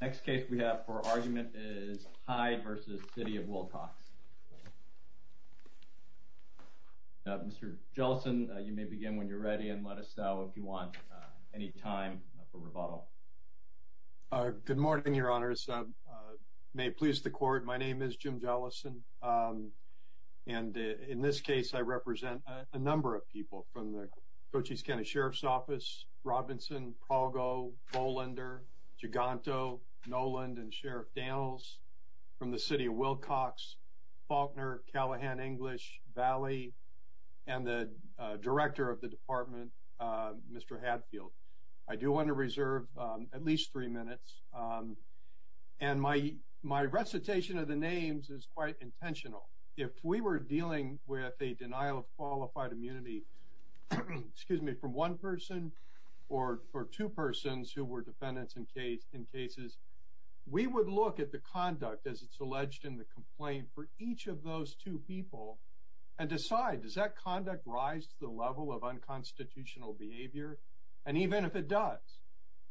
Next case we have for argument is Hyde v. City of Wilcox. Mr. Jellison you may begin when you're ready and let us know if you want any time for rebuttal. Good morning your honors. May it please the court my name is Jim Jellison and in this case I represent a number of people from the Cochise County Sheriff's Office Robinson, Palgo, Bolander, Giganto, Noland and Sheriff Daniels from the City of Wilcox, Faulkner, Callahan, English, Valley and the director of the department Mr. Hadfield. I do want to reserve at least three minutes and my my recitation of the names is quite intentional. If we were dealing with a denial of qualified immunity excuse me from one person or for two persons who were defendants in case in cases we would look at the conduct as it's alleged in the complaint for each of those two people and decide does that conduct rise to the level of unconstitutional behavior and even if it does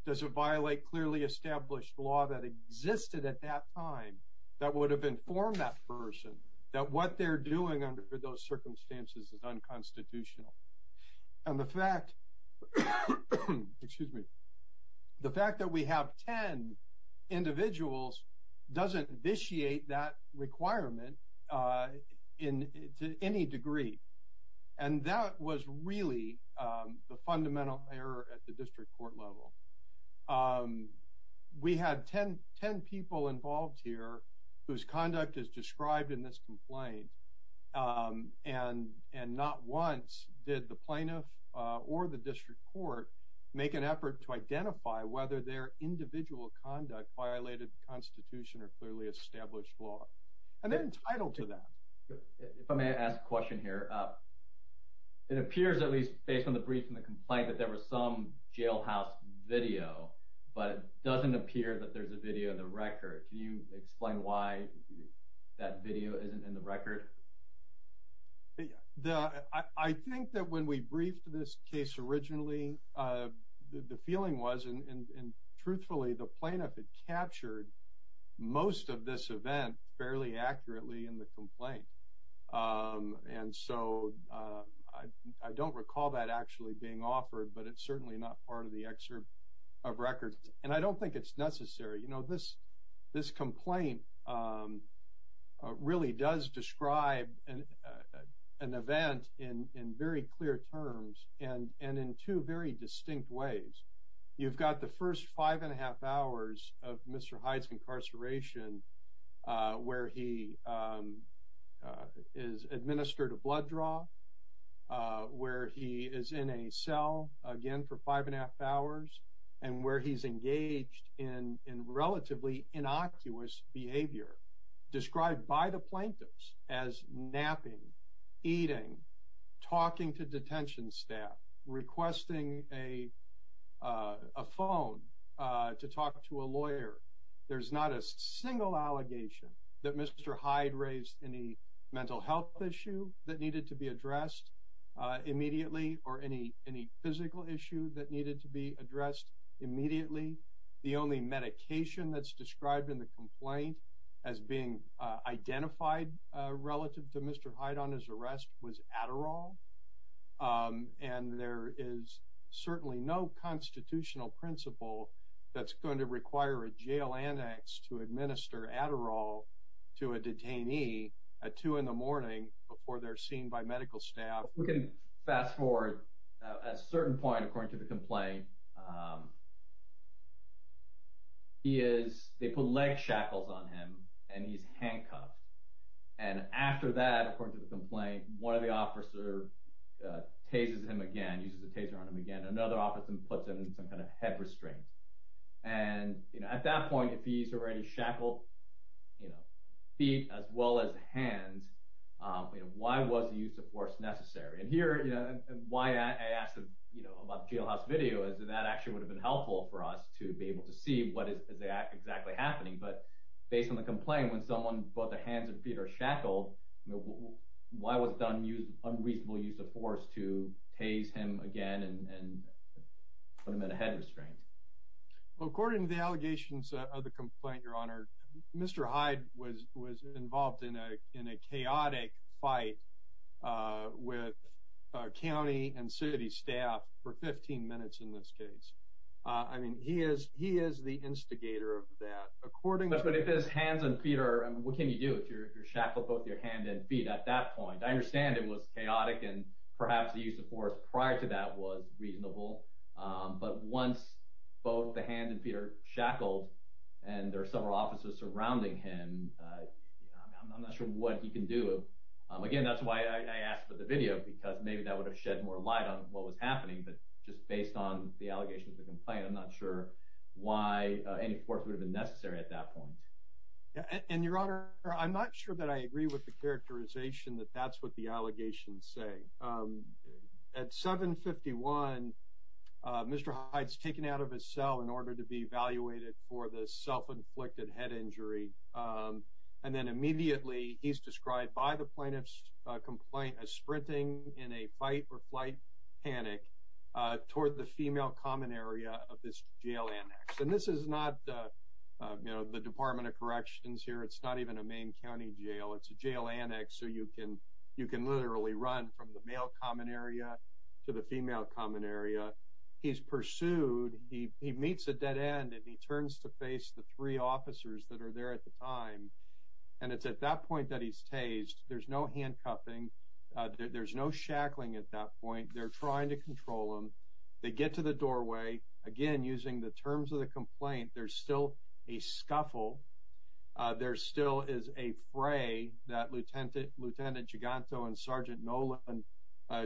does it violate clearly established law that existed at that time that would have informed that person that what they're doing under those circumstances is unconstitutional and the fact excuse me the fact that we have ten individuals doesn't vitiate that requirement in to any degree and that was really the fundamental error at the district court level. We had ten ten people involved here whose conduct is described in this complaint and and not once did the plaintiff or the district court make an effort to identify whether their individual conduct violated the Constitution or clearly established law and they're entitled to that. If I may ask a question here, it appears at least based on the brief and the complaint that there was some jailhouse video but it doesn't appear that there's a video in the record. Can you explain why that video isn't in the record? I think that when we briefed this case originally the feeling was and truthfully the plaintiff had captured most of this event fairly accurately in the complaint and so I don't recall that actually being offered but it's certainly not part of the necessary. You know this this complaint really does describe an event in in very clear terms and and in two very distinct ways. You've got the first five and a half hours of Mr. Hyde's incarceration where he is administered a blood draw where he is in a cell again for five and a half hours and where he's engaged in in relatively innocuous behavior described by the plaintiffs as napping, eating, talking to detention staff, requesting a phone to talk to a lawyer. There's not a single allegation that Mr. Hyde raised any mental health issue that needed to be addressed immediately or any any physical issue that needed to be addressed immediately. The only medication that's described in the complaint as being identified relative to Mr. Hyde on his arrest was Adderall and there is certainly no constitutional principle that's going to require a jail annex to administer Adderall to a detainee at 2 in the morning before they're seen by medical staff. We can fast forward a certain point according to the complaint he is they put leg shackles on him and he's handcuffed and after that according to the complaint one of the officer tases him again uses a taser on him again another officer puts him in some kind of head restraint and you know at that point if he's already shackled you know feet as well as hands you know why was the use of force necessary and here you know why I asked him you know about the jailhouse video is that that actually would have been helpful for us to be able to see what is that exactly happening but based on the complaint when someone brought the hands and feet are shackled why was done use unreasonable use of force to tase him again and put him in a head restraint. According to the allegations of the complaint your honor Mr. Hyde was involved in a in a chaotic fight with county and city staff for 15 minutes in this case I mean he is he is the instigator of that according to this hands and feet are what can you do if you're shackled both your hand and feet at that point I understand it was chaotic and perhaps the use of force prior to that was reasonable but once both the hand and feet are shackled and there are several officers surrounding him I'm not sure what he can do again that's why I asked for the video because maybe that would have shed more light on what was happening but just based on the allegations of the complaint I'm not sure why any force would have been necessary at that point and your honor I'm not sure that I agree with the characterization that that's what the allegations say at 751 Mr. Hyde's taken out of his cell in order to be evaluated for the self-inflicted head injury and then immediately he's described by the plaintiff's complaint as sprinting in a fight-or-flight panic toward the female common area of this jail annex and this is not you know the Department of Corrections here it's not even a Maine County Jail it's a jail annex so you can you can literally run from the male common area to the female common area he's pursued he meets a dead end and he turns to face the three officers that are there at the time and it's at that point that he's tased there's no handcuffing there's no shackling at that point they're trying to control him they get to the doorway again using the terms of the complaint there's still a scuffle there still is a fray that lieutenant lieutenant Giganto and sergeant Nolan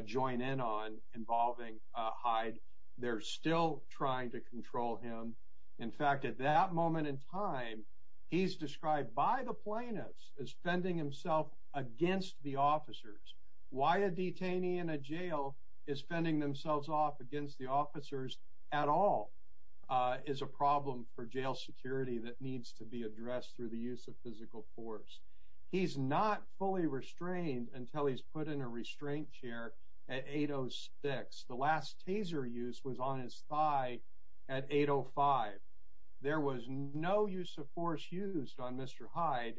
join in on involving Hyde they're still trying to control him in fact at that moment in time he's described by the plaintiffs as fending himself against the officers why a detainee in a jail is fending themselves off against the officers at all is a problem for jail security that needs to be addressed through the use of physical force he's not fully restrained until he's put in a restraint chair at 806 the last taser use was on his thigh at 805 there was no use of force used on mr. Hyde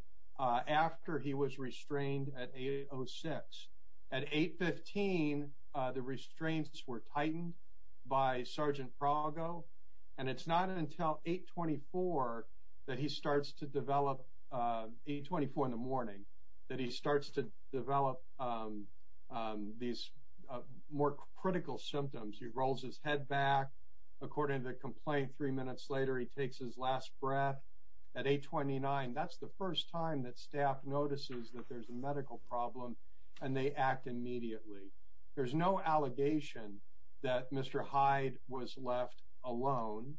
after he was restrained at 806 at 815 the restraints were tightened by sergeant Prago and it's not until 824 that he these more critical symptoms he rolls his head back according to the complaint three minutes later he takes his last breath at 829 that's the first time that staff notices that there's a medical problem and they act immediately there's no allegation that mr. Hyde was left alone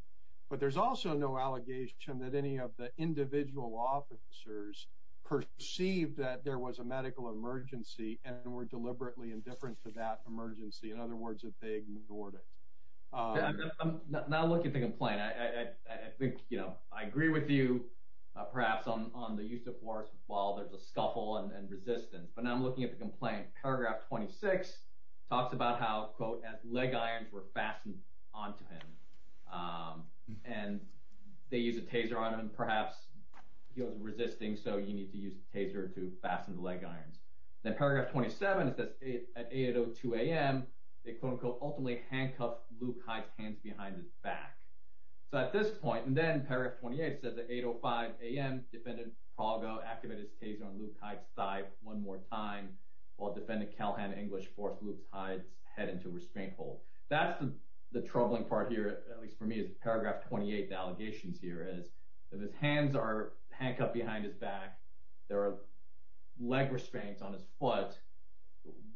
but there's also no allegation that any of the individual officers perceived that there was a medical emergency and were deliberately indifferent to that emergency in other words if they ignored it now look at the complaint I think you know I agree with you perhaps on the use of force while there's a scuffle and resistance but now I'm looking at the complaint paragraph 26 talks about how quote at leg irons were fastened onto him and they use a taser on him perhaps he was resisting so you need to use the taser to fasten the leg irons then paragraph 27 it says at 802 a.m. they quote unquote ultimately handcuffed Luke Hyde's hands behind his back so at this point and then paragraph 28 says at 805 a.m. defendant Prago activated his taser on Luke Hyde's side one more time while defendant Calhoun English forced Luke Hyde's head into restraint hold that's the the troubling part here at least for me is paragraph 28 the allegations here is that his hands are handcuffed behind his back there are leg restraints on his foot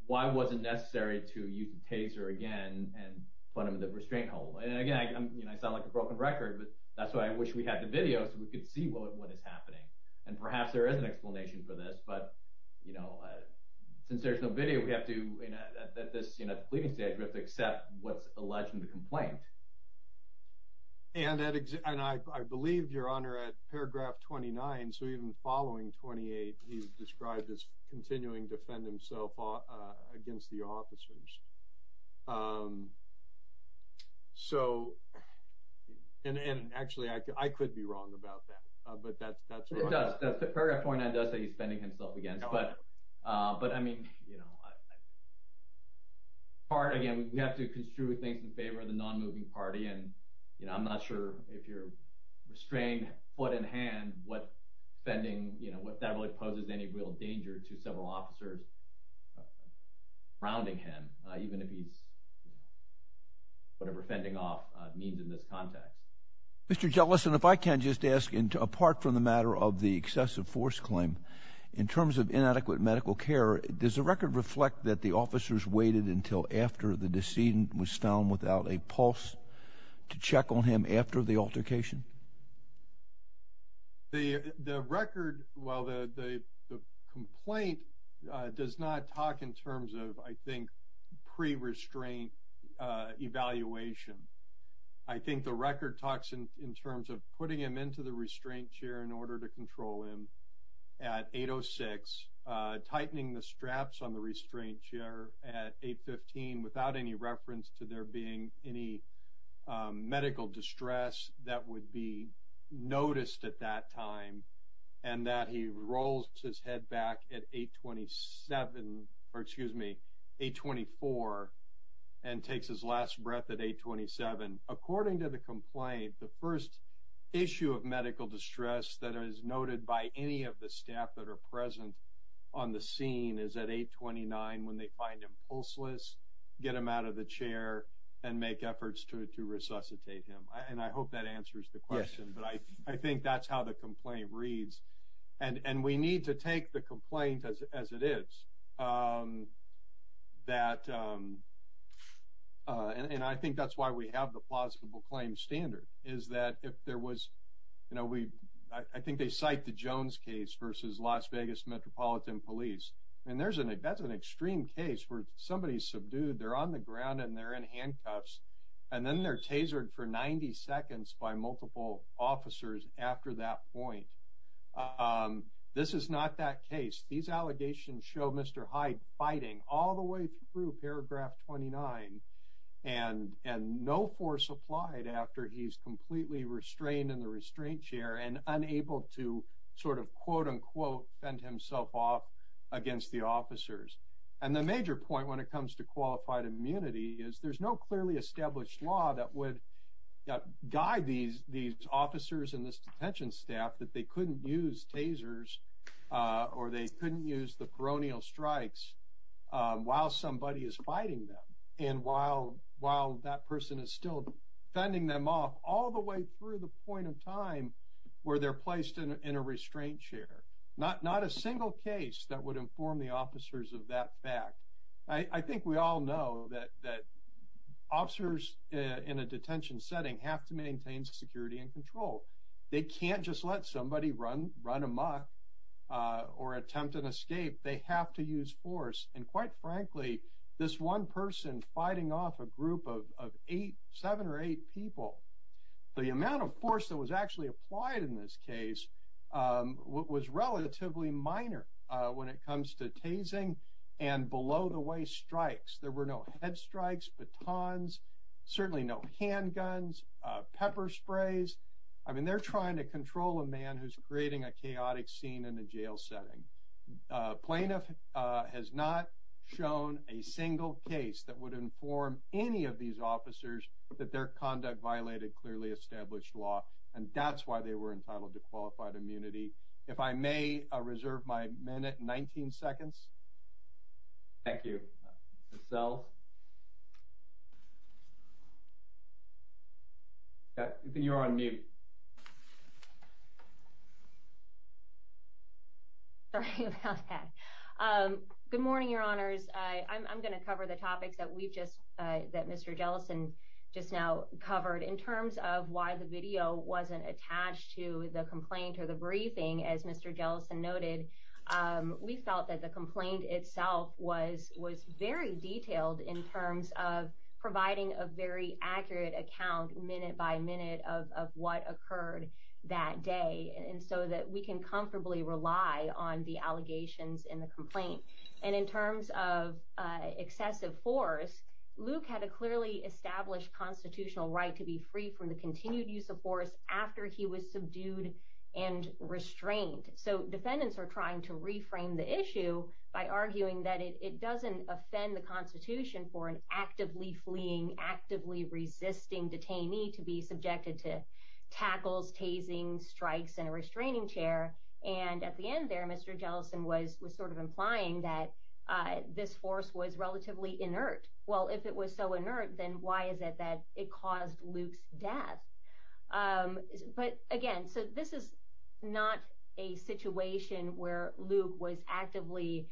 why was it necessary to use the taser again and put him in the restraint hold and again I'm you know I sound like a broken record but that's why I wish we had the video so we could see what is happening and perhaps there is an explanation for this but you know since there's no video we have to you know at this you know pleading stage we have to accept what's alleged in the complaint and I believe your honor at paragraph 29 so even following 28 he's described as continuing defend himself against the officers so and and actually I could be wrong about that but that's the paragraph 49 does that he's bending himself again but but I mean you know part again we have to construe things in non-moving party and you know I'm not sure if you're restrained foot in hand what bending you know what that really poses any real danger to several officers rounding him even if he's whatever fending off means in this context mr. jealous and if I can just ask into apart from the matter of the excessive force claim in terms of inadequate medical care does the record reflect that the officers waited until after the decedent was found without a pulse to check on him after the altercation the record well the complaint does not talk in terms of I think pre restraint evaluation I think the record talks in terms of putting him into the restraint chair in order to control him at 806 tightening the straps on the restraint chair at 815 without any reference to there being any medical distress that would be noticed at that time and that he rolls his head back at 827 or excuse me 824 and takes his last breath at 827 according to the complaint the first issue of medical distress that is noted by any of the staff that are present on the scene is at 829 when they find impulses get him out of the chair and make efforts to resuscitate him and I hope that answers the question but I I think that's how the complaint reads and and we need to take the complaint as it is that and I think that's why we have the plausible claim standard is that if there was you know we I think they cite the Jones case versus Las Vegas Metropolitan Police and there's an that's an extreme case where somebody subdued they're on the ground and they're in handcuffs and then they're tasered for 90 seconds by multiple officers after that point this is not that case these allegations show mr. Hyde fighting all the way through paragraph 29 and and no force applied after he's completely restrained in the restraint chair and unable to sort of quote-unquote fend himself off against the officers and the major point when it comes to qualified immunity is there's no clearly established law that would guide these these officers and this detention staff that they couldn't use tasers or they couldn't use the peroneal strikes while somebody is fighting them and while while that person is still fending them off all the way through the point of time where they're placed in a restraint chair not not a single case that would inform the officers of that fact I think we all know that that officers in a detention setting have to maintain security and control they can't just let somebody run run amok or attempt an escape they have to use force and quite frankly this one person fighting off a group of eight seven or eight people the amount of force that was actually applied in this case what was relatively minor when it comes to tasing and below the way strikes there were no head strikes batons certainly no handguns pepper sprays I mean they're trying to control a man who's creating a chaotic scene in the jail setting plaintiff has not shown a single case that would inform any of these officers that their conduct violated clearly established law and that's why they were entitled to qualified immunity if I may reserve my minute 19 seconds thank you so you're on me okay good morning your honors I'm gonna cover the topics that we've just that mr. Jellison just now covered in terms of why the video wasn't attached to the complaint or the briefing as mr. Jellison noted we felt that the complaint itself was was very detailed in terms of providing a very accurate account minute by minute of what occurred that day and so that we can comfortably rely on the constitutional right to be free from the continued use of force after he was subdued and restrained so defendants are trying to reframe the issue by arguing that it doesn't offend the Constitution for an actively fleeing actively resisting detainee to be subjected to tackles tasing strikes and a restraining chair and at the end there mr. Jellison was was sort of implying that this force was relatively inert well if it was so inert then why is it that it caused Luke's death but again so this is not a situation where Luke was actively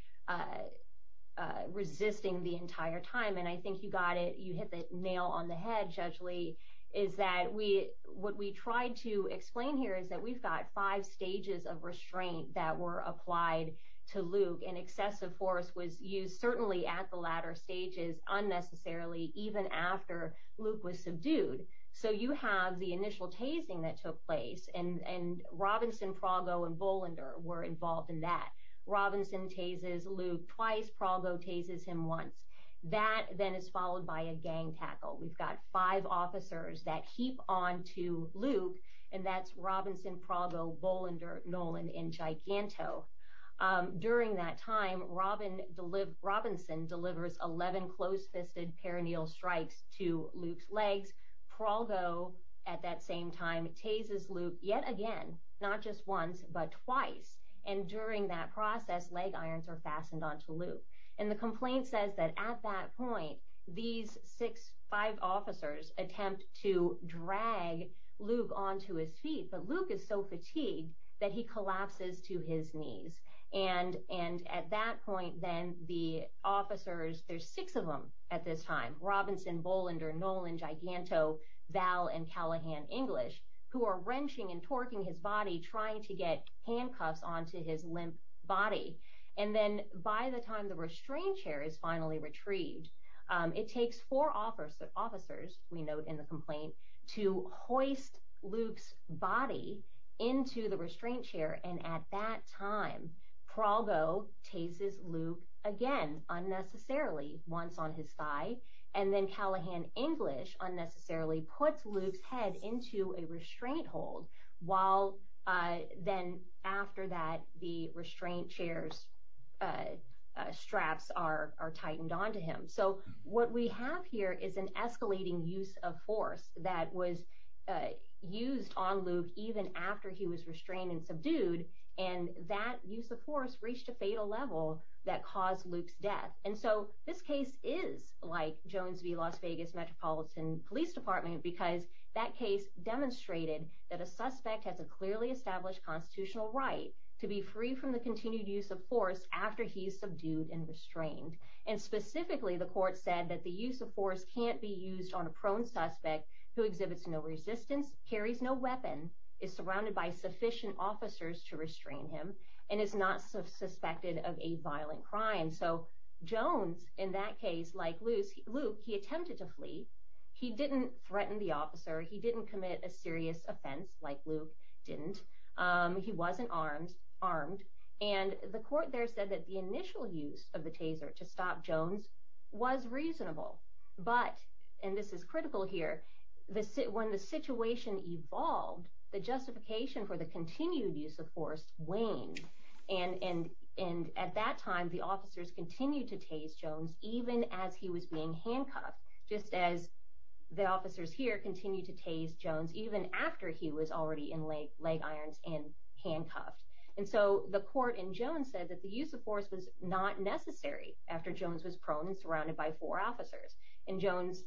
resisting the entire time and I think you got it you hit the nail on the head judgely is that we what we tried to explain here is that we've got five stages of restraint that were applied to Luke and excessive force was used certainly at the latter stages unnecessarily even after Luke was subdued so you have the initial tasing that took place and and Robinson Prago and Bollender were involved in that Robinson tases Luke twice Prago tases him once that then is followed by a gang tackle we've got five officers that heap on to Luke and that's Robinson Prago Bollender Nolan in Giganto during that time Robin deliver Robinson delivers 11 closed-fisted perineal strikes to Luke's legs Prago at that same time tases Luke yet again not just once but twice and during that process leg irons are fastened on to Luke and the complaint says that at that point these six five officers attempt to drag Luke on to his but Luke is so fatigued that he collapses to his knees and and at that point then the officers there's six of them at this time Robinson Bollender Nolan Giganto Val and Callahan English who are wrenching and torquing his body trying to get handcuffs on to his limp body and then by the time the restraint chair is finally retrieved it takes four offers that officers we note in the into the restraint chair and at that time Prago tases Luke again unnecessarily once on his thigh and then Callahan English unnecessarily puts Luke's head into a restraint hold while then after that the restraint chairs straps are tightened on to him so what we have here is an escalating use of force that was used on Luke even after he was restrained and subdued and that use of force reached a fatal level that caused Luke's death and so this case is like Jones v Las Vegas Metropolitan Police Department because that case demonstrated that a suspect has a clearly established constitutional right to be free from the continued use of force after he's subdued and restrained and specifically the court said that the use of force can't be used on a prone suspect who exhibits no resistance carries no weapon is surrounded by sufficient officers to restrain him and is not suspected of a violent crime so Jones in that case like loose Luke he attempted to flee he didn't threaten the officer he didn't commit a serious offense like Luke didn't he wasn't armed armed and the court there said that the initial use of critical here the sit when the situation evolved the justification for the continued use of force waned and and and at that time the officers continued to tase Jones even as he was being handcuffed just as the officers here continue to tase Jones even after he was already in late leg irons and handcuffed and so the court in Jones said that the use of force was not necessary after Jones was prone and surrounded by four officers and Jones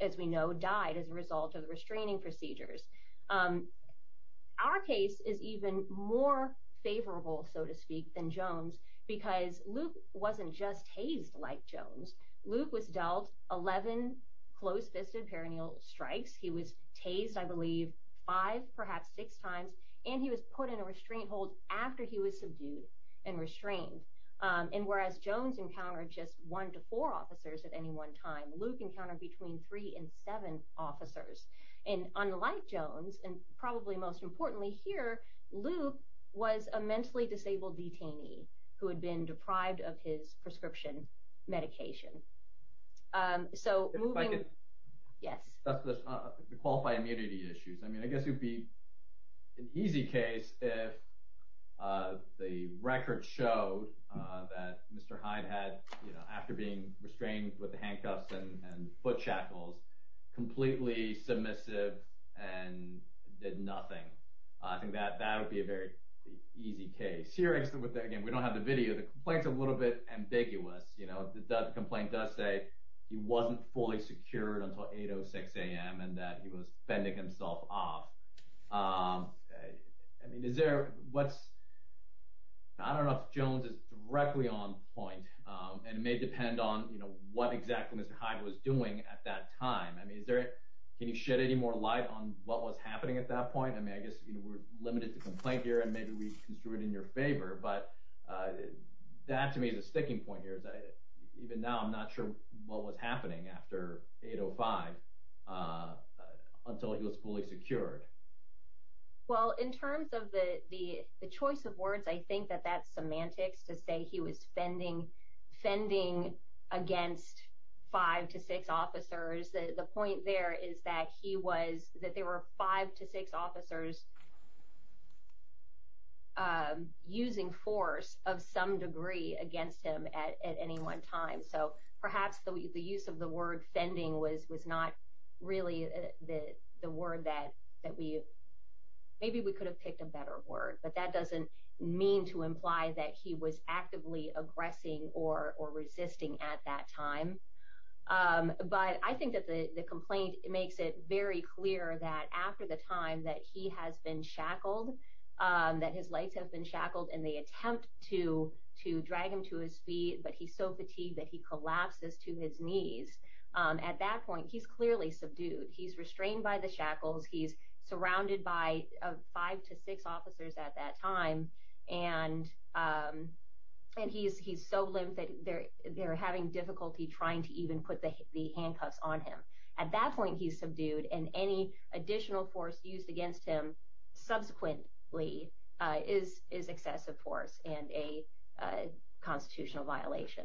as we know died as a result of the restraining procedures our case is even more favorable so to speak than Jones because Luke wasn't just hazed like Jones Luke was dealt 11 close-fisted perineal strikes he was tased I believe five perhaps six times and he was put in a restraint hold after he was subdued and restrained and whereas Jones encountered just one to four officers at any one time Luke encountered between three and seven officers and unlike Jones and probably most importantly here Luke was a mentally disabled detainee who had been deprived of his prescription medication so yes the qualified immunity issues I the record shows that mr. Hyde had you know after being restrained with the handcuffs and and foot shackles completely submissive and did nothing I think that that would be a very easy case here except with that again we don't have the video the complaints a little bit ambiguous you know the complaint does say he wasn't fully secured until 806 a.m. and that he was fending himself off I mean is there what's I don't know if Jones is directly on point and it may depend on you know what exactly mr. Hyde was doing at that time I mean is there can you shed any more light on what was happening at that point I mean I guess we're limited to complaint here and maybe we can do it in your favor but that to me is a sticking point here that even now I'm not sure what was happening after 805 until he was fully secured well in terms of the the the choice of words I think that that's semantics to say he was fending fending against five to six officers the point there is that he was that there were five to six officers using force of some degree against him at any one time so perhaps the use of the word fending was was not really the the word that that we maybe we could have picked a better word but that doesn't mean to imply that he was actively aggressing or resisting at that time but I think that the the complaint makes it very clear that after the time that he has been shackled that his lights have been shackled and they attempt to to drag him to his feet but he's so fatigued that he collapses to his knees at that point he's clearly subdued he's restrained by the shackles he's surrounded by five to six officers at that time and and he's he's so limp that they're they're having difficulty trying to even put the handcuffs on him at that point he's subdued and any additional force used against him subsequently is is excessive force and a constitutional violation.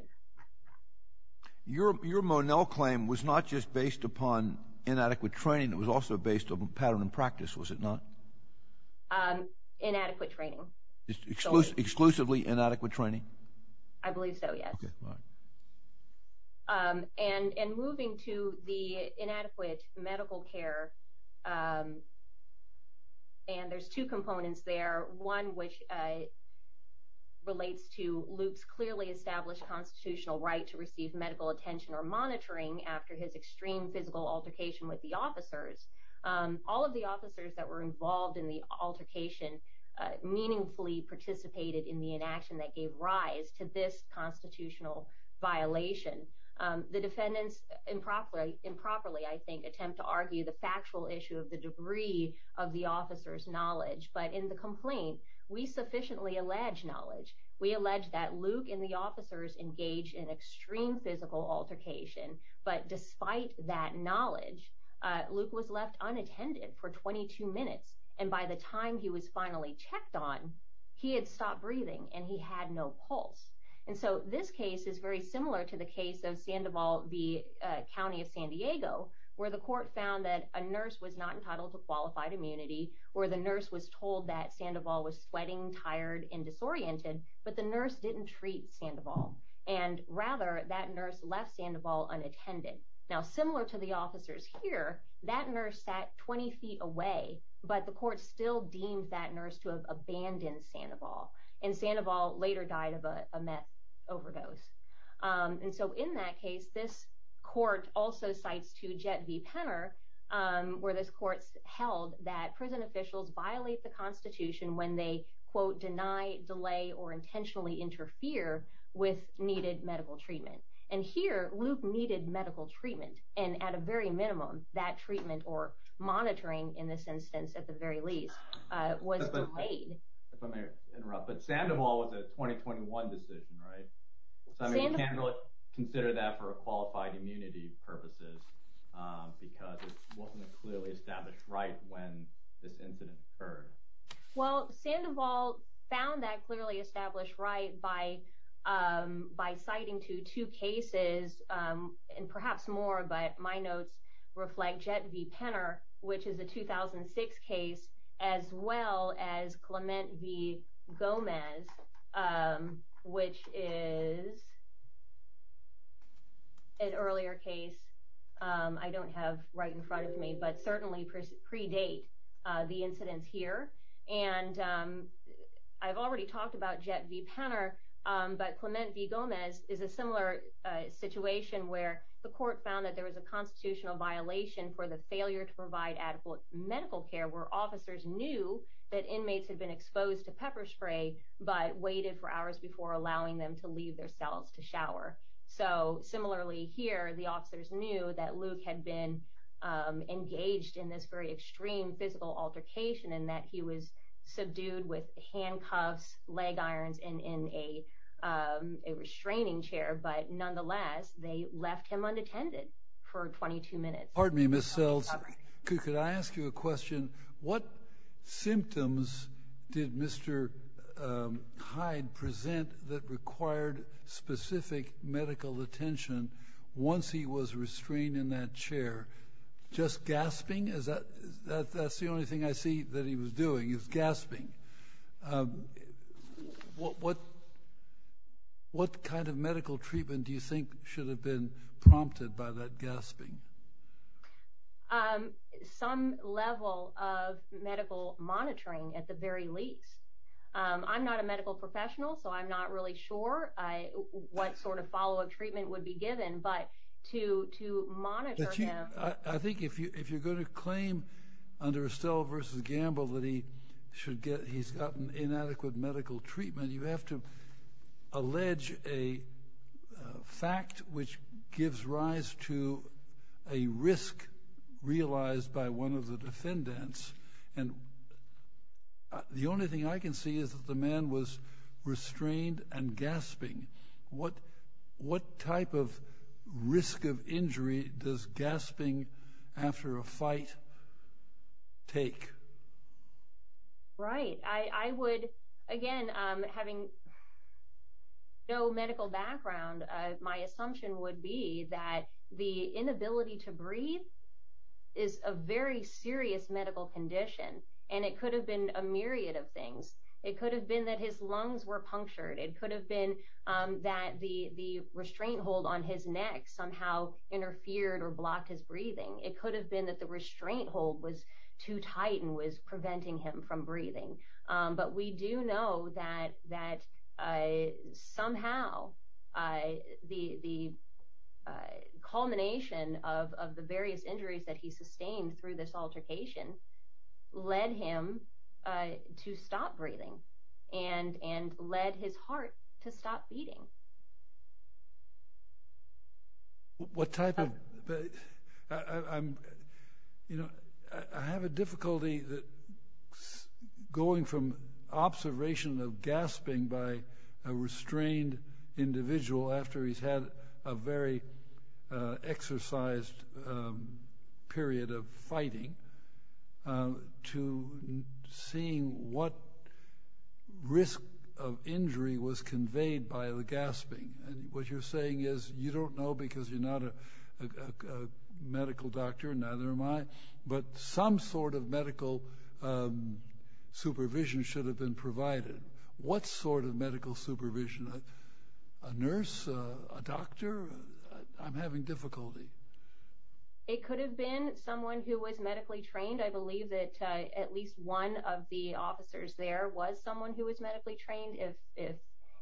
Your your Monell claim was not just based upon inadequate training it was also based on pattern and practice was it not? Inadequate training. Exclusively inadequate training? I believe so yes and and moving to the inadequate medical care and there's two components there one which relates to Luke's clearly established constitutional right to receive medical attention or monitoring after his extreme physical altercation with the officers all of the officers that were involved in the altercation meaningfully participated in the inaction that gave rise to this constitutional violation the defendants improperly improperly I think attempt to argue the factual issue of the debris of the officers knowledge but in the complaint we sufficiently allege knowledge we allege that Luke and the officers engaged in extreme physical altercation but despite that knowledge Luke was left unattended for 22 minutes and by the time he was finally checked on he had stopped breathing and he had no pulse and so this case is very similar to the case of Sandoval v. County of San Diego where the court found that a nurse was not entitled to qualified immunity or the nurse was told that Sandoval was sweating tired and disoriented but the nurse didn't treat Sandoval and rather that nurse left Sandoval unattended now similar to the officers here that nurse sat 20 feet away but the court still deemed that nurse to have abandoned Sandoval and Sandoval later died of a meth overdose and so in that case this court also cites to Jet v. Penner where this court held that prison officials violate the Constitution when they quote deny delay or intentionally interfere with needed medical treatment and here Luke needed medical treatment and at a very minimum that treatment or monitoring in this instance at the very least was delayed but Sandoval was a 2021 decision right when this incident occurred well Sandoval found that clearly established right by by citing to two cases and perhaps more but my notes reflect Jet v. Penner which is a 2006 case as well as Clement v. Gomez which is an earlier case I don't have right in front of me but certainly predate the incidents here and I've already talked about Jet v. Penner but Clement v. Gomez is a similar situation where the court found that there was a constitutional violation for the failure to provide adequate medical care where officers knew that inmates had been exposed to pepper spray but waited for hours before allowing them to their cells to shower so similarly here the officers knew that Luke had been engaged in this very extreme physical altercation and that he was subdued with handcuffs leg irons and in a restraining chair but nonetheless they left him unattended for 22 minutes. Pardon me Ms. Sells could I ask you a question what symptoms did Mr. Hyde present that required specific medical attention once he was restrained in that chair just gasping is that that's the only thing I see that he was doing is gasping what what kind of medical treatment do you monitoring at the very least I'm not a medical professional so I'm not really sure I what sort of follow-up treatment would be given but to to monitor him. I think if you if you're going to claim under Estelle v. Gamble that he should get he's gotten inadequate medical treatment you have to allege a fact which gives rise to a risk realized by one of the defendants and the only thing I can see is that the man was restrained and gasping what what type of risk of injury does gasping after a fight take? Right I I would again having no medical background my assumption would be that the inability to breathe is a very serious medical condition and it could have been a myriad of things it could have been that his lungs were punctured it could have been that the the restraint hold on his neck somehow interfered or blocked his breathing it could have been that the restraint hold was too tight and was preventing him from breathing but we do know that that I somehow I the the culmination of the various injuries that he sustained through this altercation led him to stop breathing and and led his heart to stop beating. What type of I'm you know I have a difficulty that going from observation of gasping by a restrained individual after he's had a very exercised period of fighting to seeing what risk of injury was conveyed by the gasping and what you're saying is you don't know because you're not a medical doctor neither am I but some sort of medical supervision should have been provided what sort of medical supervision a nurse a doctor I'm having difficulty. It could have been someone who was medically trained I believe that at least one of the officers there was someone who was medically trained if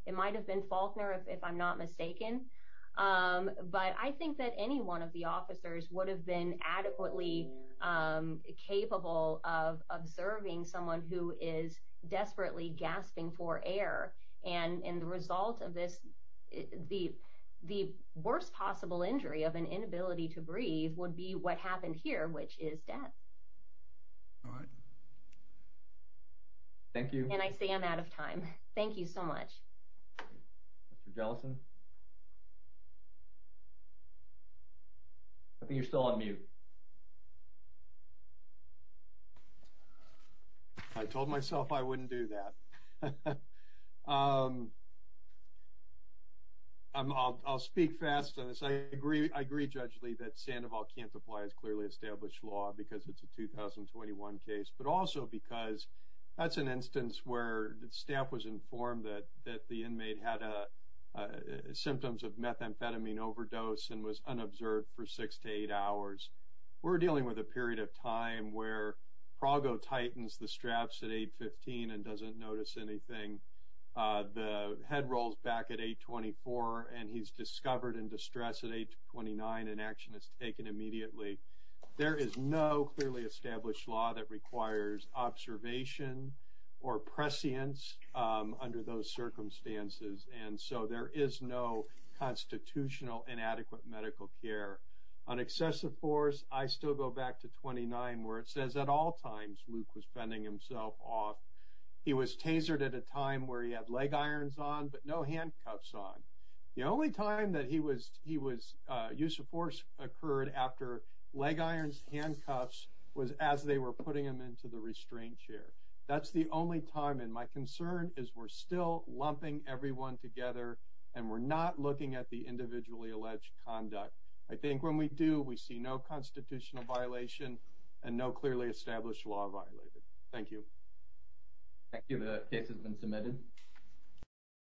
it might have been Faulkner if I'm not mistaken but I think that any one of the officers would have been adequately capable of observing someone who is desperately gasping for air and in the result of this the the worst possible injury of an inability to breathe would be what happened here which is death. All right. Thank you. And I say I'm out of time. Thank you so much. Mr. Jellison. I think you're still on mute. I told myself I wouldn't do that. I'll speak fast on this. I agree I agree judge Lee that Sandoval can't apply as clearly established law because it's a 2021 case but also because that's an instance where the staff was informed that that the inmate had a symptoms of methamphetamine overdose and was unobserved for six to eight hours. We're dealing with a period of time where Prago tightens the straps at 815 and doesn't notice anything. The head rolls back at 824 and he's discovered in there is no clearly established law that requires observation or prescience under those circumstances and so there is no constitutional inadequate medical care. On excessive force I still go back to 29 where it says at all times Luke was fending himself off. He was tasered at a time where he had leg irons on but no handcuffs on. The only time that he was he was use of force occurred after leg irons handcuffs was as they were putting him into the restraint chair. That's the only time and my concern is we're still lumping everyone together and we're not looking at the individually alleged conduct. I think when we do we see no constitutional violation and no clearly established law violated. Thank you. Thank you. The case has been submitted.